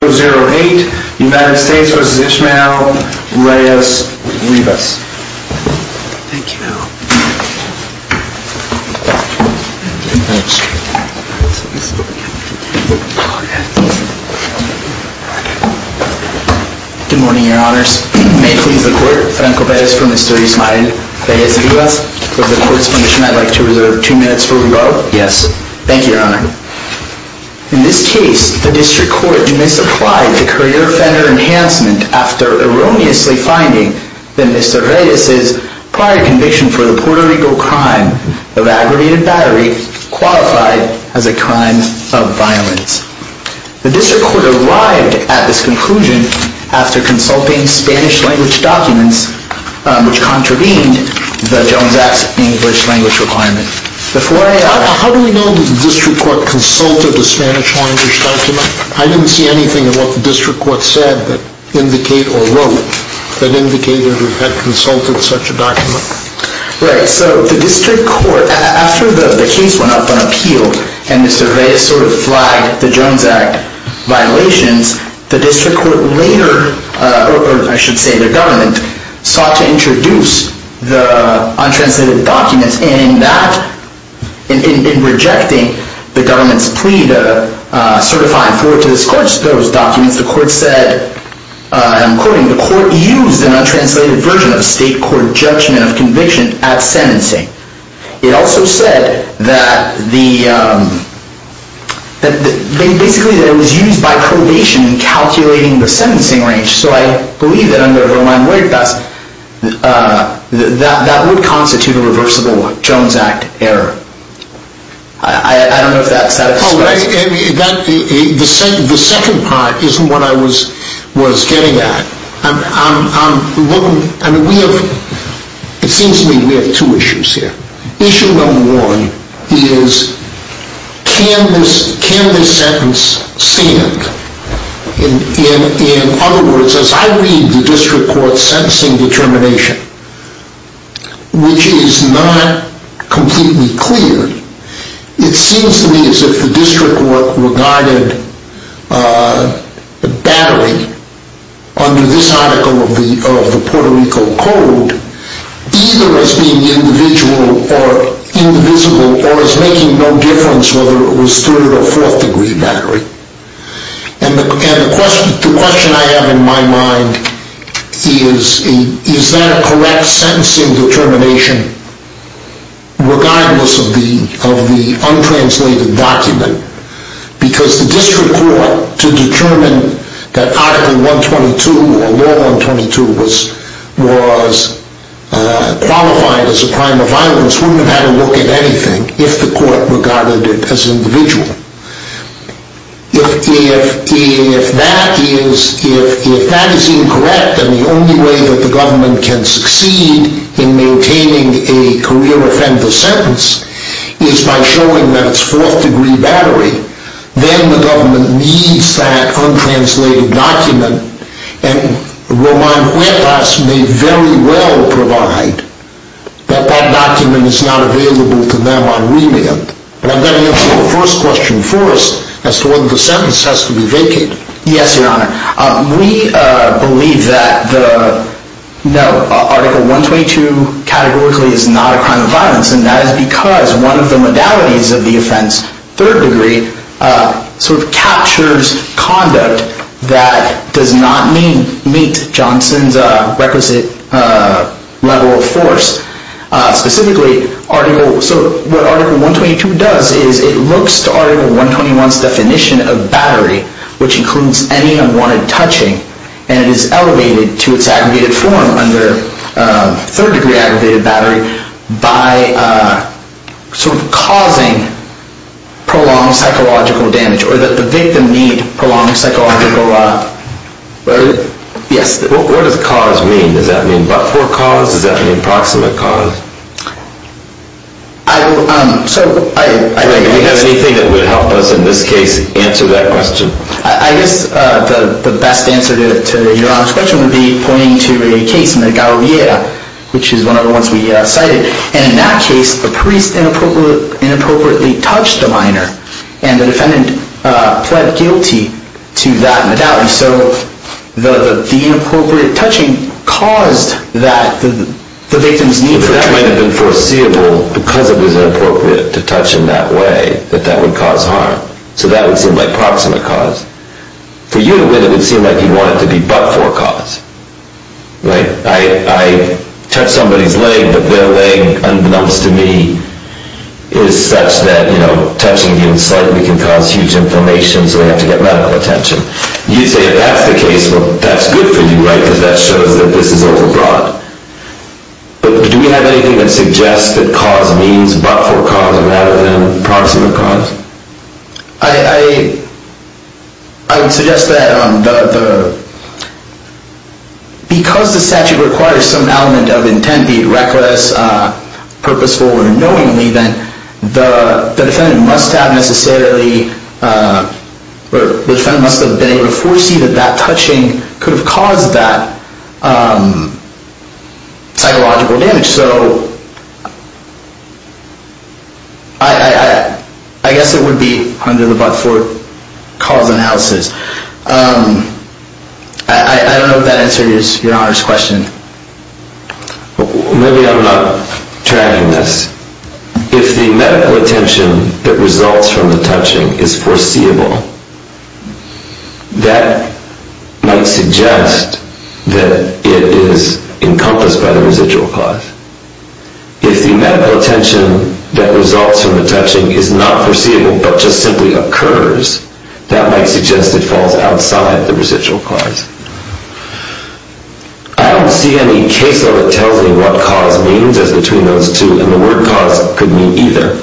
Good morning, your honors. May it please the court, Franco Pérez for Mr. Ismael Reyes-Rivas. For the court's permission, I'd like to reserve two minutes for rebuttal. Yes. Thank you, your honor. In this case, the district court misapplied the career offender enhancement after erroneously finding that Mr. Reyes' prior conviction for the Puerto Rico crime of aggravated battery qualified as a crime of violence. The district court arrived at this conclusion after consulting Spanish language documents, which contravened the Jones Act's English language requirement. How do we know that the district court consulted a Spanish language document? I didn't see anything about the district court said that indicate or wrote that indicated it had consulted such a document. Right. So the district court, after the case went up on appeal and Mr. Reyes sort of flagged the Jones Act violations, the district court later, or I should say the government, sought to introduce the untranslated documents, and in that, in rejecting the government's plea to certify and forward to this court those documents, the court said, and I'm quoting, the court used an untranslated version of the state court judgment of conviction at sentencing. It also said that the, basically that it was used by probation in calculating the sentencing range, so I believe that under Verlaine-Witt, that would constitute a reversible Jones Act error. I don't know if that satisfies you. No, the second part isn't what I was getting at. It seems to me we have two issues here. Issue number one is, can this sentence stand? In other words, as I read the district court's sentencing determination, which is not completely clear, it seems to me as if the district court regarded battery under this article of the Puerto Rico Code either as being individual or indivisible or as making no difference whether it was third or fourth degree battery. And the question I have in my mind is, is that a correct sentencing determination regardless of the untranslated document? Because the district court, to determine that Article 122 or Law 122 was qualified as a crime of violence, wouldn't have had a look at anything if the court regarded it as individual. If that is incorrect and the only way that the government can succeed in maintaining a career offender sentence is by showing that it's fourth degree battery, then the government needs that untranslated document and Roman Huertas may very well provide that that document is not available to them on remand. But I'm going to answer the first question first as to whether the sentence has to be vacated. Yes, Your Honor. We believe that Article 122 categorically is not a crime of violence, and that is because one of the modalities of the offense, third degree, captures conduct that does not meet Johnson's requisite level of force. Specifically, so what Article 122 does is it looks to Article 121's definition of battery, which includes any unwanted touching, and it is elevated to its aggregated form under third degree aggravated battery by sort of causing prolonged psychological damage or that the victim need prolonged psychological, yes. What does cause mean? Does that mean but for cause? Is that an approximate cause? I will, so I. Do you have anything that would help us in this case answer that question? I guess the best answer to Your Honor's question would be pointing to a case in the Gauriera, which is one of the ones we cited. And in that case, the priest inappropriately touched the minor, and the defendant pled guilty to that modality. So the inappropriate touching caused that the victim's need for battery. But that might have been foreseeable because it was inappropriate to touch in that way, that that would cause harm. So that would seem like proximate cause. For you to win, it would seem like you want it to be but for cause. Right. I touch somebody's leg, but their leg, unbeknownst to me, is such that, you know, touching even slightly can cause huge inflammation, so they have to get medical attention. You'd say if that's the case, well, that's good for you, right, because that shows that this is overbroad. But do we have anything that suggests that cause means but for cause rather than proximate cause? I would suggest that because the statute requires some element of intent, be it reckless, purposeful, or knowingly, then the defendant must have been able to foresee that that touching could have caused that psychological damage. So I guess it would be under the but for cause analysis. I don't know if that answers your Honor's question. Maybe I'm not tracking this. If the medical attention that results from the touching is foreseeable, that might suggest that it is encompassed by the residual cause. If the medical attention that results from the touching is not foreseeable but just simply occurs, that might suggest it falls outside the residual cause. I don't see any case law that tells me what cause means as between those two, and the word cause could mean either.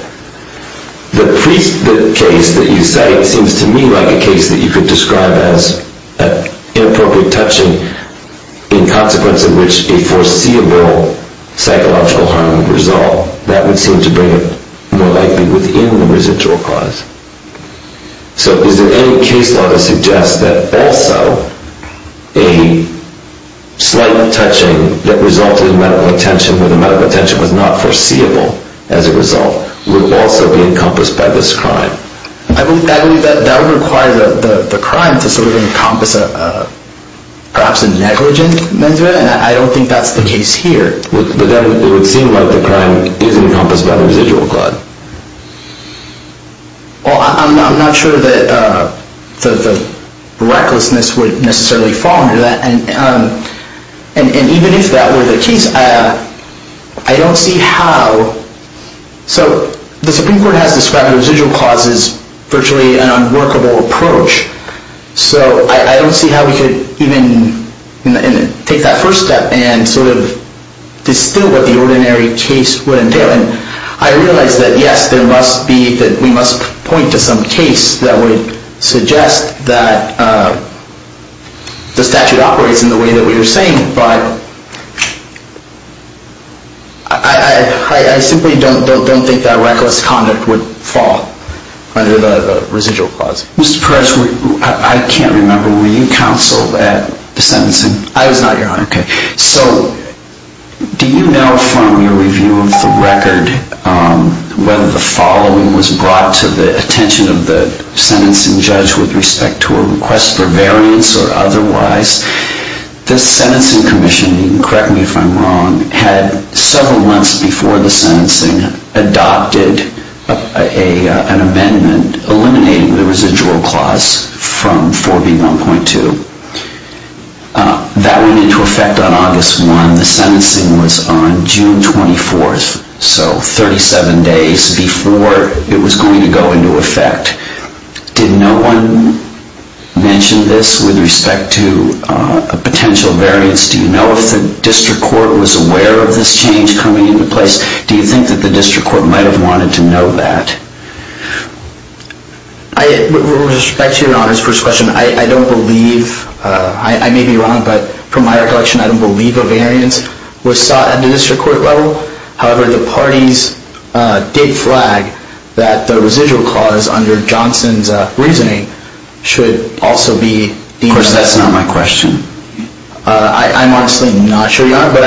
The priesthood case that you cite seems to me like a case that you could describe as an inappropriate touching, in consequence of which a foreseeable psychological harm would resolve. That would seem to bring it more likely within the residual cause. So is there any case law that suggests that also a slight touching that resulted in medical attention, where the medical attention was not foreseeable as a result, would also be encompassed by this crime? I believe that would require the crime to sort of encompass perhaps a negligent measure, and I don't think that's the case here. But then it would seem like the crime is encompassed by the residual cause. Well, I'm not sure that the recklessness would necessarily fall under that. And even if that were the case, I don't see how. So the Supreme Court has described the residual cause as virtually an unworkable approach. So I don't see how we could even take that first step and sort of distill what the ordinary case would entail. And I realize that, yes, there must be that we must point to some case that would suggest that the statute operates in the way that we were saying. But I simply don't think that reckless conduct would fall under the residual cause. Mr. Perez, I can't remember, were you counsel at the sentencing? I was not, Your Honor. Okay. So do you know from your review of the record whether the following was brought to the attention of the sentencing judge with respect to a request for variance or otherwise? The sentencing commission, you can correct me if I'm wrong, had several months before the sentencing adopted an amendment eliminating the residual cause. From 4B1.2. That went into effect on August 1. The sentencing was on June 24, so 37 days before it was going to go into effect. Did no one mention this with respect to a potential variance? Do you know if the district court was aware of this change coming into place? Do you think that the district court might have wanted to know that? With respect to Your Honor's first question, I don't believe, I may be wrong, but from my recollection, I don't believe a variance was sought at the district court level. However, the parties did flag that the residual cause under Johnson's reasoning should also be deemed necessary. Of course, that's not my question. I'm honestly not sure, Your Honor, but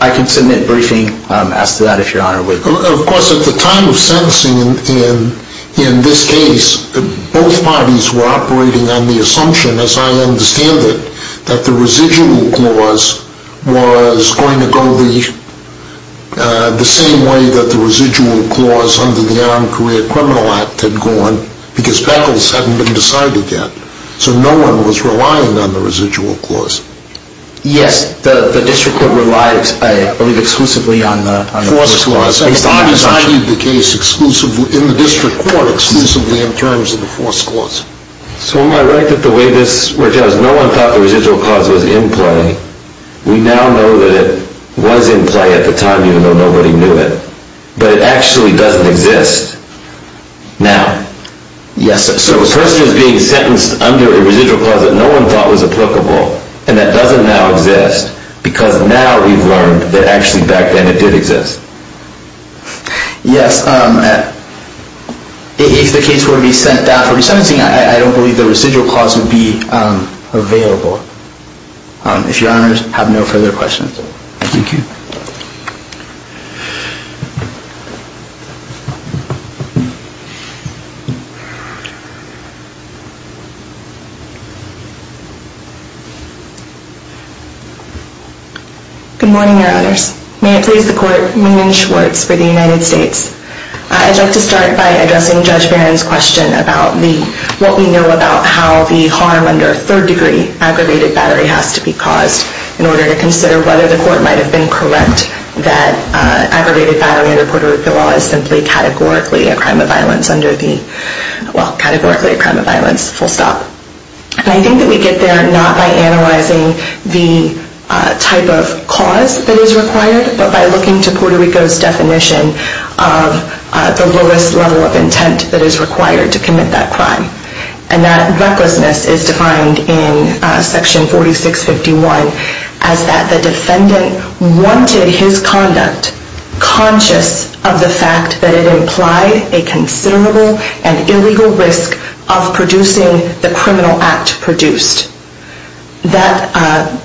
I can submit a briefing as to that, if Your Honor would. Of course, at the time of sentencing, in this case, both parties were operating on the assumption, as I understand it, that the residual cause was going to go the same way that the residual cause under the Armed Career Criminal Act had gone, because Peckels hadn't been decided yet, so no one was relying on the residual cause. Yes, the district court relied, I believe, exclusively on the force clause. The parties achieved the case in the district court exclusively in terms of the force clause. So am I right that the way this was, no one thought the residual cause was in play? We now know that it was in play at the time, even though nobody knew it, but it actually doesn't exist now. Yes. So the person is being sentenced under a residual clause that no one thought was applicable, and that doesn't now exist, because now we've learned that actually back then it did exist. Yes. If the case were to be sent down for resentencing, I don't believe the residual clause would be available. If Your Honors have no further questions. Thank you. Good morning, Your Honors. May it please the Court, Mignon Schwartz for the United States. I'd like to start by addressing Judge Barron's question about what we know about how the harm under third degree aggravated battery has to be caused in order to consider whether the court might have been correct that a crime of violence under the, well, categorically a crime of violence, full stop. And I think that we get there not by analyzing the type of cause that is required, but by looking to Puerto Rico's definition of the lowest level of intent that is required to commit that crime. And that recklessness is defined in section 4651 as that the defendant wanted his conduct, conscious of the fact that it implied a considerable and illegal risk of producing the criminal act produced. That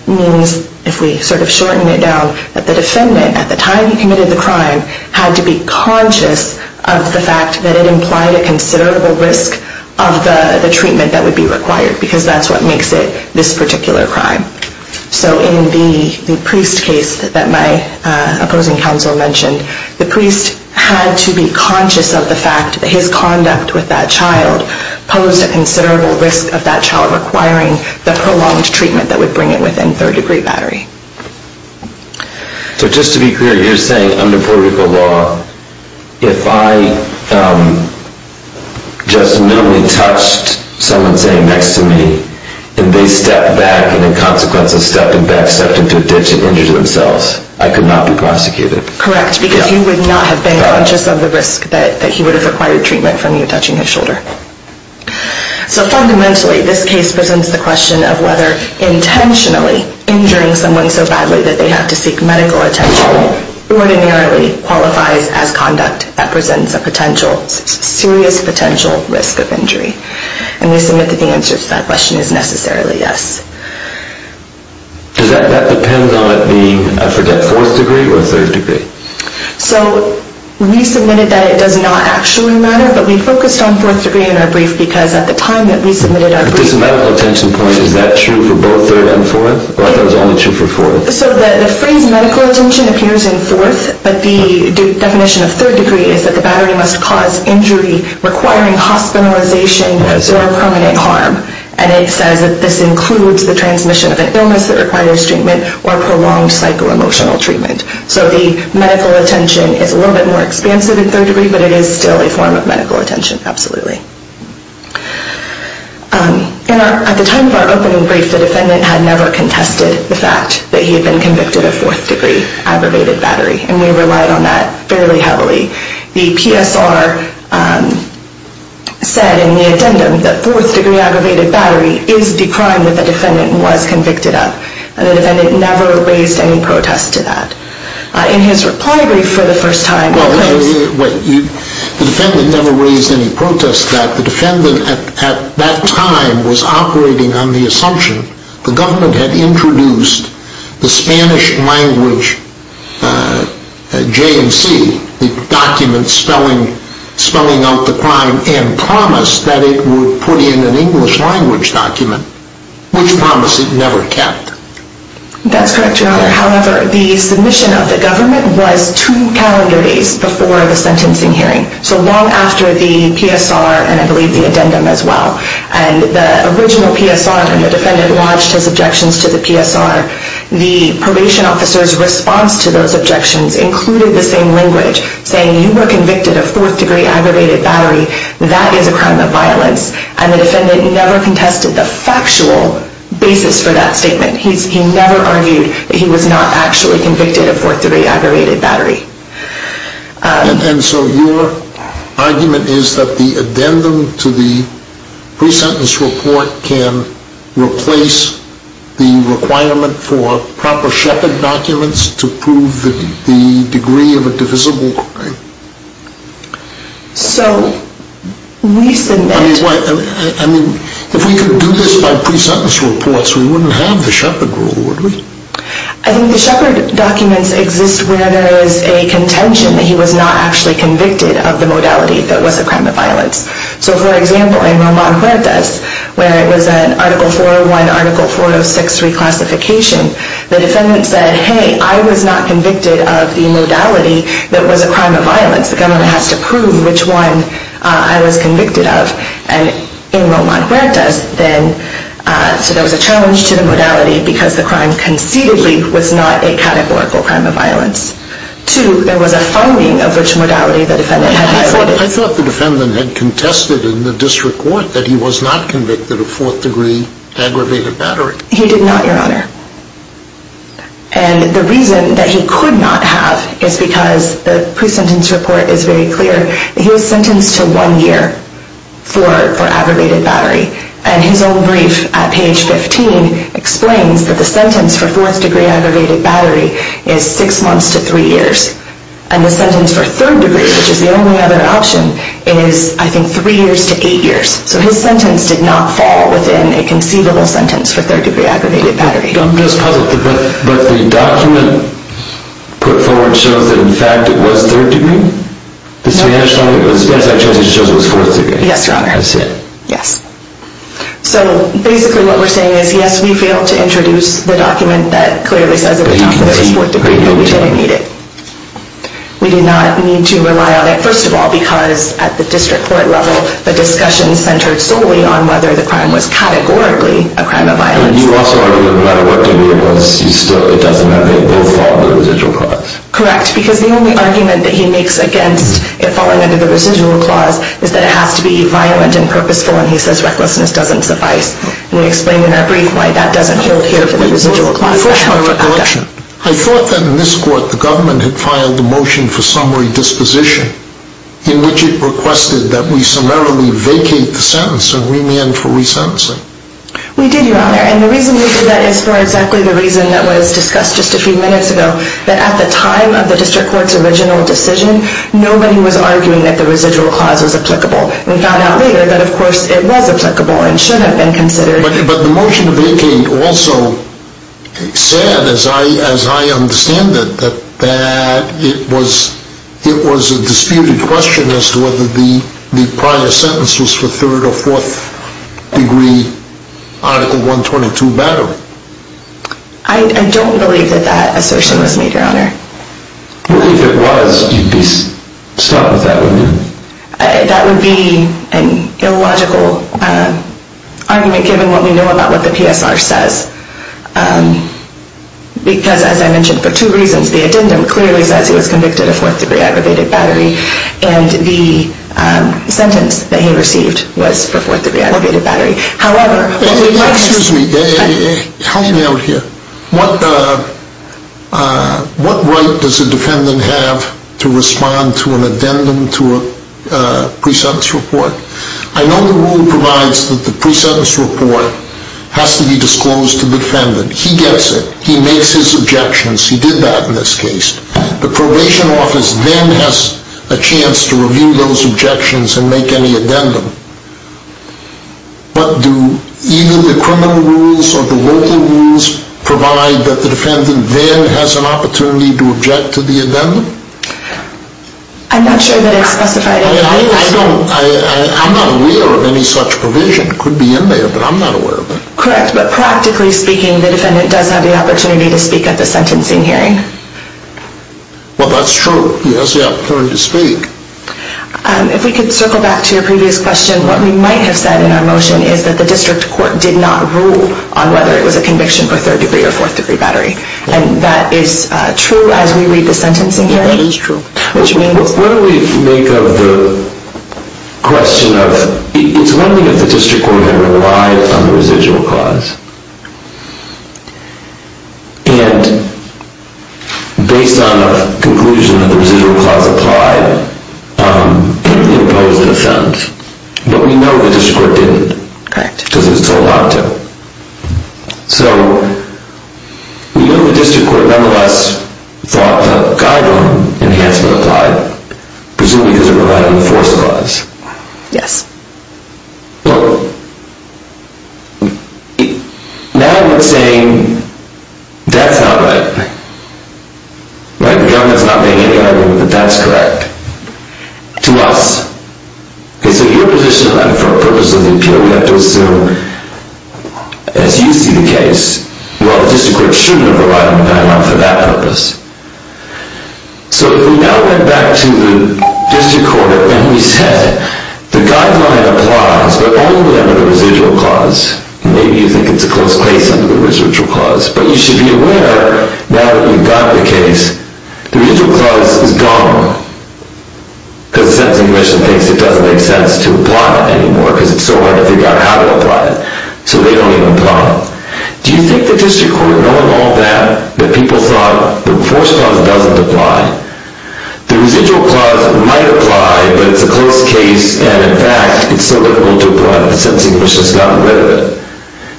means, if we sort of shorten it down, that the defendant, at the time he committed the crime, had to be conscious of the fact that it implied a considerable risk of the treatment that would be required, because that's what makes it this particular crime. So in the priest case that my opposing counsel mentioned, the priest had to be conscious of the fact that his conduct with that child posed a considerable risk of that child requiring the prolonged treatment that would bring it within third degree battery. So just to be clear, you're saying under Puerto Rico law, if I just merely touched someone's hand next to me, and they stepped back, and in consequence of stepping back, stepped into a ditch and injured themselves, I could not be prosecuted? Correct, because you would not have been conscious of the risk that he would have required treatment from you touching his shoulder. So fundamentally, this case presents the question of whether intentionally injuring someone so badly that they have to seek medical attention ordinarily qualifies as conduct that presents a serious potential risk of injury. And we submit that the answer to that question is necessarily yes. Does that depend on it being, I forget, fourth degree or third degree? So we submitted that it does not actually matter, but we focused on fourth degree in our brief, because at the time that we submitted our brief... But this medical attention point, is that true for both third and fourth? Or is that only true for fourth? So the phrase medical attention appears in fourth, but the definition of third degree is that the battery must cause injury requiring hospitalization or permanent harm. And it says that this includes the transmission of an illness that requires treatment or prolonged psycho-emotional treatment. So the medical attention is a little bit more expansive in third degree, but it is still a form of medical attention, absolutely. At the time of our opening brief, the defendant had never contested the fact that he had been convicted of fourth degree aggravated battery, and we relied on that fairly heavily. The PSR said in the addendum that fourth degree aggravated battery is the crime that the defendant was convicted of, and the defendant never raised any protest to that. In his reply brief for the first time... The defendant never raised any protest to that. The defendant at that time was operating on the assumption the government had introduced the Spanish language J and C, the document spelling out the crime, and promised that it would put in an English language document, which promise it never kept. That's correct, Your Honor. However, the submission of the government was two calendar days before the sentencing hearing, so long after the PSR and I believe the addendum as well. And the original PSR, when the defendant lodged his objections to the PSR, the probation officer's response to those objections included the same language, saying you were convicted of fourth degree aggravated battery. That is a crime of violence. And the defendant never contested the factual basis for that statement. He never argued that he was not actually convicted of fourth degree aggravated battery. And so your argument is that the addendum to the pre-sentence report can replace the requirement for proper Shepard documents to prove the degree of a divisible crime? So, we submit... I mean, if we could do this by pre-sentence reports, we wouldn't have the Shepard rule, would we? I think the Shepard documents exist where there is a contention that he was not actually convicted of the modality that was a crime of violence. So, for example, in Roman Huertas, where it was an Article 401, Article 406 reclassification, the defendant said, hey, I was not convicted of the modality that was a crime of violence. The government has to prove which one I was convicted of. And in Roman Huertas, then, so there was a challenge to the modality because the crime concededly was not a categorical crime of violence. Two, there was a phoning of which modality the defendant had been afforded. I thought the defendant had contested in the district court that he was not convicted of fourth degree aggravated battery. He did not, Your Honor. And the reason that he could not have is because the pre-sentence report is very clear. He was sentenced to one year for aggravated battery. And his own brief at page 15 explains that the sentence for fourth degree aggravated battery is six months to three years. And the sentence for third degree, which is the only other option, is, I think, three years to eight years. So his sentence did not fall within a conceivable sentence for third degree aggravated battery. I'm just puzzled. But the document put forward shows that, in fact, it was third degree? No. The Spanish file? The Spanish file just shows it was fourth degree. Yes, Your Honor. That's it. Yes. So, basically, what we're saying is, yes, we failed to introduce the document that clearly says it was not fourth degree, but we didn't need it. We did not need to rely on it, first of all, because at the district court level, the discussion centered solely on whether the crime was categorically a crime of violence. And you also argued that no matter what degree it was, it doesn't matter. They both fall under the residual clause. Correct. Because the only argument that he makes against it falling under the residual clause is that it has to be violent and purposeful, and he says recklessness doesn't suffice. And we explained in our brief why that doesn't hold here for the residual clause. Before my recollection, I thought that in this court the government had filed a motion for summary disposition in which it requested that we summarily vacate the sentence and remand for resentencing. We did, Your Honor. And the reason we did that is for exactly the reason that was discussed just a few minutes ago, that at the time of the district court's original decision, nobody was arguing that the residual clause was applicable. We found out later that, of course, it was applicable and should have been considered. But the motion to vacate also said, as I understand it, that it was a disputed question as to whether the prior sentence was for third or fourth degree Article 122 battery. I don't believe that that assertion was made, Your Honor. Well, if it was, you'd be stopped with that, wouldn't you? That would be an illogical argument given what we know about what the PSR says. Because, as I mentioned, for two reasons. The addendum clearly says he was convicted of fourth degree aggravated battery and the sentence that he received was for fourth degree aggravated battery. Excuse me. Help me out here. What right does a defendant have to respond to an addendum to a pre-sentence report? I know the rule provides that the pre-sentence report has to be disclosed to the defendant. He gets it. He makes his objections. He did that in this case. The probation office then has a chance to review those objections and make any addendum. But do either the criminal rules or the local rules provide that the defendant there has an opportunity to object to the addendum? I'm not sure that it's specified in the rules. I'm not aware of any such provision. It could be in there, but I'm not aware of it. Correct, but practically speaking, the defendant does have the opportunity to speak at the sentencing hearing. Well, that's true. He has the opportunity to speak. If we could circle back to your previous question, what we might have said in our motion is that the district court did not rule on whether it was a conviction for third degree or fourth degree battery. And that is true as we read the sentencing hearing? That is true. What do we make of the question of, it's one thing if the district court had relied on the residual clause, and based on a conclusion that the residual clause applied, it imposed an offense. But we know the district court didn't. Correct. Because it was told not to. So we know the district court nonetheless thought the guideline enhancement applied, presumably because it relied on the fourth clause. Yes. Well, now we're saying that's not right. The government's not being able to agree that that's correct. To us. Okay, so your position on that, for the purpose of the appeal, we have to assume, as you see the case, well, the district court should have relied on the guideline for that purpose. So if we now went back to the district court and we said, the guideline applies, but only under the residual clause. Maybe you think it's a close case under the residual clause. But you should be aware, now that you've got the case, the residual clause is gone. Because the sentencing commission thinks it doesn't make sense to apply it anymore because it's so hard to figure out how to apply it. So they don't have a problem. Do you think the district court, knowing all that, that people thought the fourth clause doesn't apply, the residual clause might apply, but it's a close case, and in fact, it's so difficult to apply that the sentencing commission has gotten rid of it,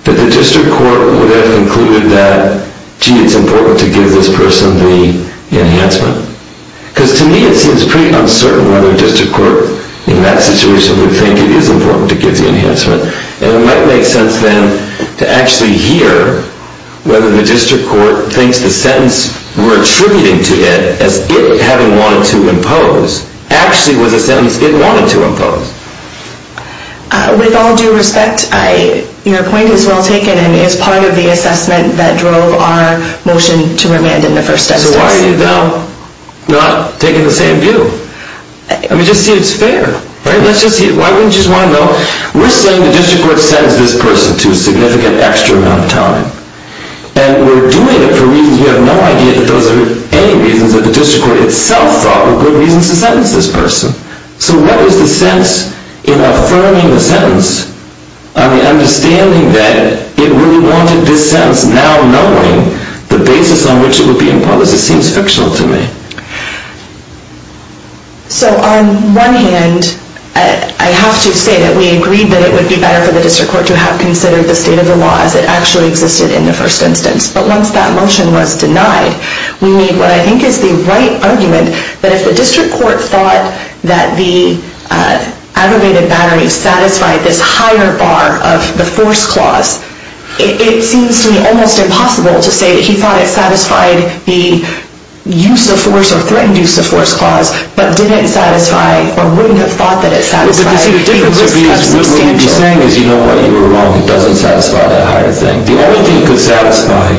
that the district court would have concluded that, gee, it's important to give this person the enhancement? Because to me, it seems pretty uncertain whether a district court, in that situation, would think it is important to give the enhancement. And it might make sense, then, to actually hear whether the district court thinks the sentence we're attributing to it, as it having wanted to impose, actually was a sentence it wanted to impose. With all due respect, your point is well taken and is part of the assessment that drove our motion to remand in the first instance. So why are you now not taking the same view? I mean, just see it's fair. Let's just see it. Why wouldn't you just want to know? We're saying the district court sentenced this person to a significant extra amount of time. And we're doing it for reasons we have no idea that those are any reasons that the district court itself thought were good reasons to sentence this person. So what is the sense in affirming the sentence on the understanding that it really wanted this sentence, now knowing the basis on which it would be imposed? It seems fictional to me. So on one hand, I have to say that we agreed that it would be better for the district court to have considered the state of the law as it actually existed in the first instance. But once that motion was denied, we made what I think is the right argument that if the district court thought that the aggravated battery satisfied this higher bar of the force clause, it seems to me almost impossible to say that he thought it satisfied the use of force or threatened use of force clause, but didn't satisfy or wouldn't have thought that it satisfied the risk of substantial. What we'd be saying is, you know what, you were wrong. It doesn't satisfy that higher thing. The only thing it could satisfy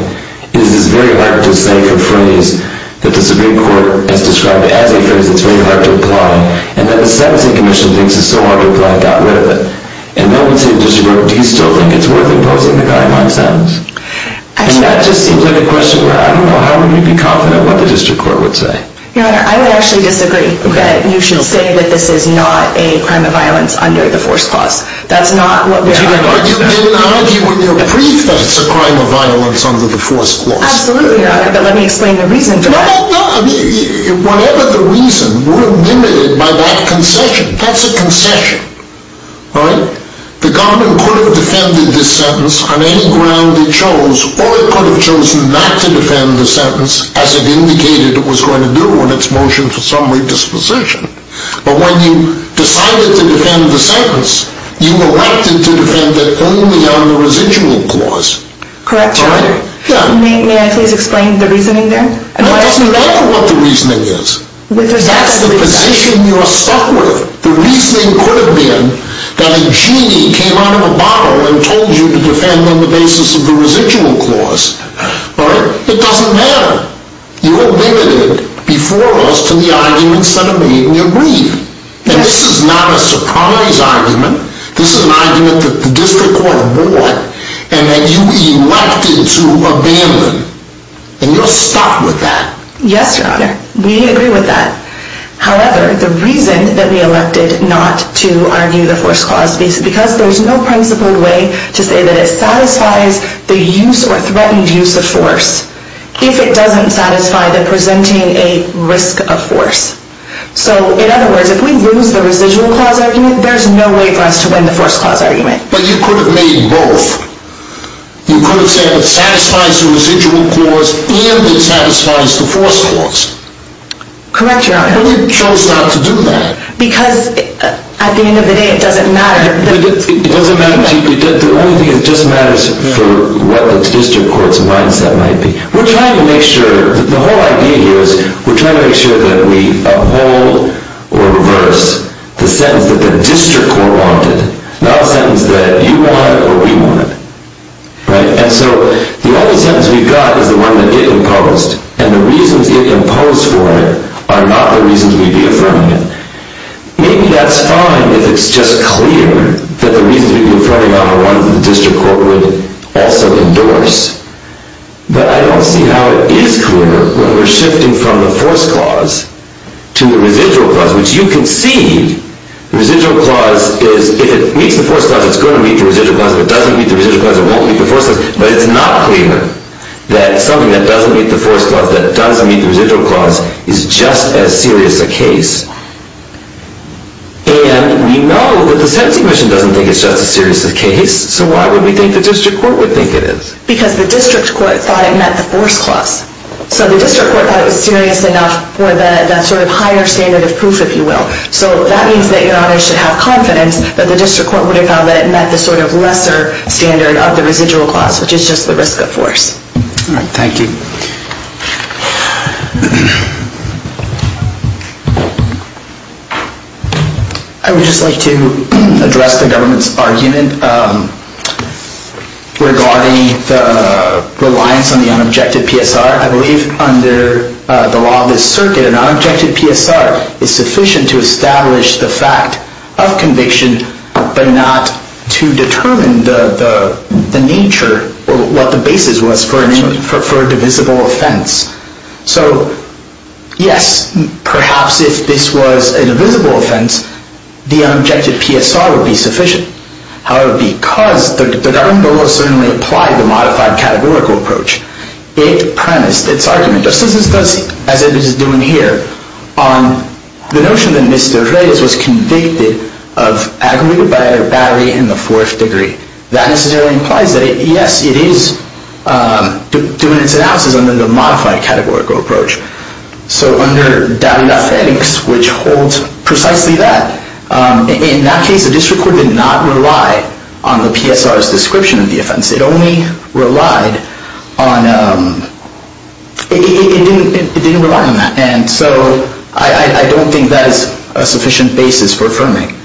is this very hard to say for phrase that the district court has described as a phrase that's very hard to apply. And then the sentencing commission thinks it's so hard to apply, it got rid of it. And that would say to the district court, do you still think it's worth imposing the guideline sentence? And that just seems like a question where I don't know, how would we be confident what the district court would say? Your Honor, I would actually disagree that you should say that this is not a crime of violence under the force clause. That's not what we're arguing about. But you didn't argue when you were briefed that it's a crime of violence under the force clause. Absolutely not, but let me explain the reason for that. No, no, no. Whatever the reason, we're limited by that concession. That's a concession. Alright? The government could have defended this sentence on any ground it chose, or it could have chosen not to defend the sentence as it indicated it was going to do in its motion for summary disposition. But when you decided to defend the sentence, you elected to defend it only on the residual clause. Correct, Your Honor. May I please explain the reasoning there? That doesn't matter what the reasoning is. That's the position you're stuck with. The reasoning could have been that a genie came out of a bottle and told you to defend on the basis of the residual clause. Alright? It doesn't matter. You're limited before us to the arguments that are made in your brief. And this is not a sobriety's argument. This is an argument that the district court bought and that you elected to abandon. And you're stuck with that. Yes, Your Honor. We agree with that. However, the reason that we elected not to argue the force clause is because there's no principled way to say that it satisfies the use or threatened use of force if it doesn't satisfy the presenting a risk of force. So, in other words, if we lose the residual clause argument, there's no way for us to win the force clause argument. But you could have made both. You could have said it satisfies the residual clause and it satisfies the force clause. Correct, Your Honor. But you chose not to do that. Because, at the end of the day, it doesn't matter. It doesn't matter to you. The only thing that just matters for what the district court's mindset might be. The whole idea here is we're trying to make sure that we uphold or reverse the sentence that the district court wanted, not a sentence that you want or we want. And so the only sentence we've got is the one that it imposed. And the reasons it imposed for it are not the reasons we'd be affirming it. Maybe that's fine if it's just clear that the reasons we'd be affirming are the ones the district court would also endorse. But I don't see how it is clearer when we're shifting from the force clause to the residual clause, which you can see, the residual clause is, if it meets the force clause, it's going to meet the residual clause. If it doesn't meet the residual clause, it won't meet the force clause. But it's not clearer that something that doesn't meet the force clause, that doesn't meet the residual clause, is just as serious a case. And we know that the Sentencing Commission doesn't think it's just as serious a case. So why would we think the district court would think it is? Because the district court thought it met the force clause. So the district court thought it was serious enough for that sort of higher standard of proof, if you will. So that means that your honor should have confidence that the district court would have found that it met the sort of lesser standard of the residual clause, which is just the risk of force. All right, thank you. I would just like to address the government's argument regarding the reliance on the unobjected PSR. I believe under the law of this circuit, an unobjected PSR is sufficient to establish the fact of conviction, but not to determine the nature or what the basis was for a divisible offense. So yes, perhaps if this was a divisible offense, the unobjected PSR would be sufficient. However, because the government certainly applied the modified categorical approach, it premised its argument, just as it is doing here, on the notion that Mr. Reyes was convicted of aggravated battery in the fourth degree. That necessarily implies that, yes, it is doing its analysis under the modified categorical approach. So under W.F. Eddings, which holds precisely that, in that case, the district court did not rely on the PSR's description of the offense. It only relied on, it didn't rely on that. And so I don't think that is a sufficient basis for affirming.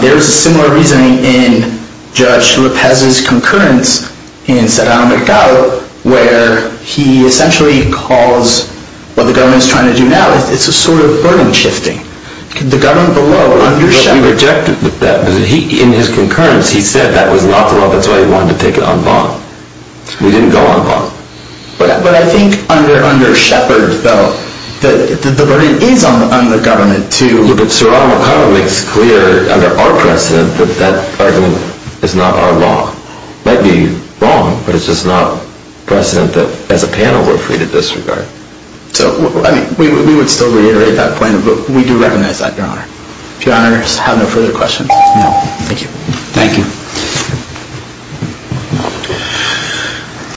There is a similar reasoning in Judge Lopez's concurrence in Serrano Mercado, where he essentially calls what the government is trying to do now, it's a sort of burden shifting. The government below, under Shepard... But we rejected that. In his concurrence, he said that was not the law. That's why he wanted to take it on bond. We didn't go on bond. But I think under Shepard, though, the burden is on the government to... Yeah, but Serrano Mercado makes clear under our precedent that that argument is not our law. It might be wrong, but it's just not precedent that, as a panel, we're free to disregard. So, I mean, we would still reiterate that point, but we do recognize that, Your Honor. If Your Honors have no further questions. No, thank you. Thank you.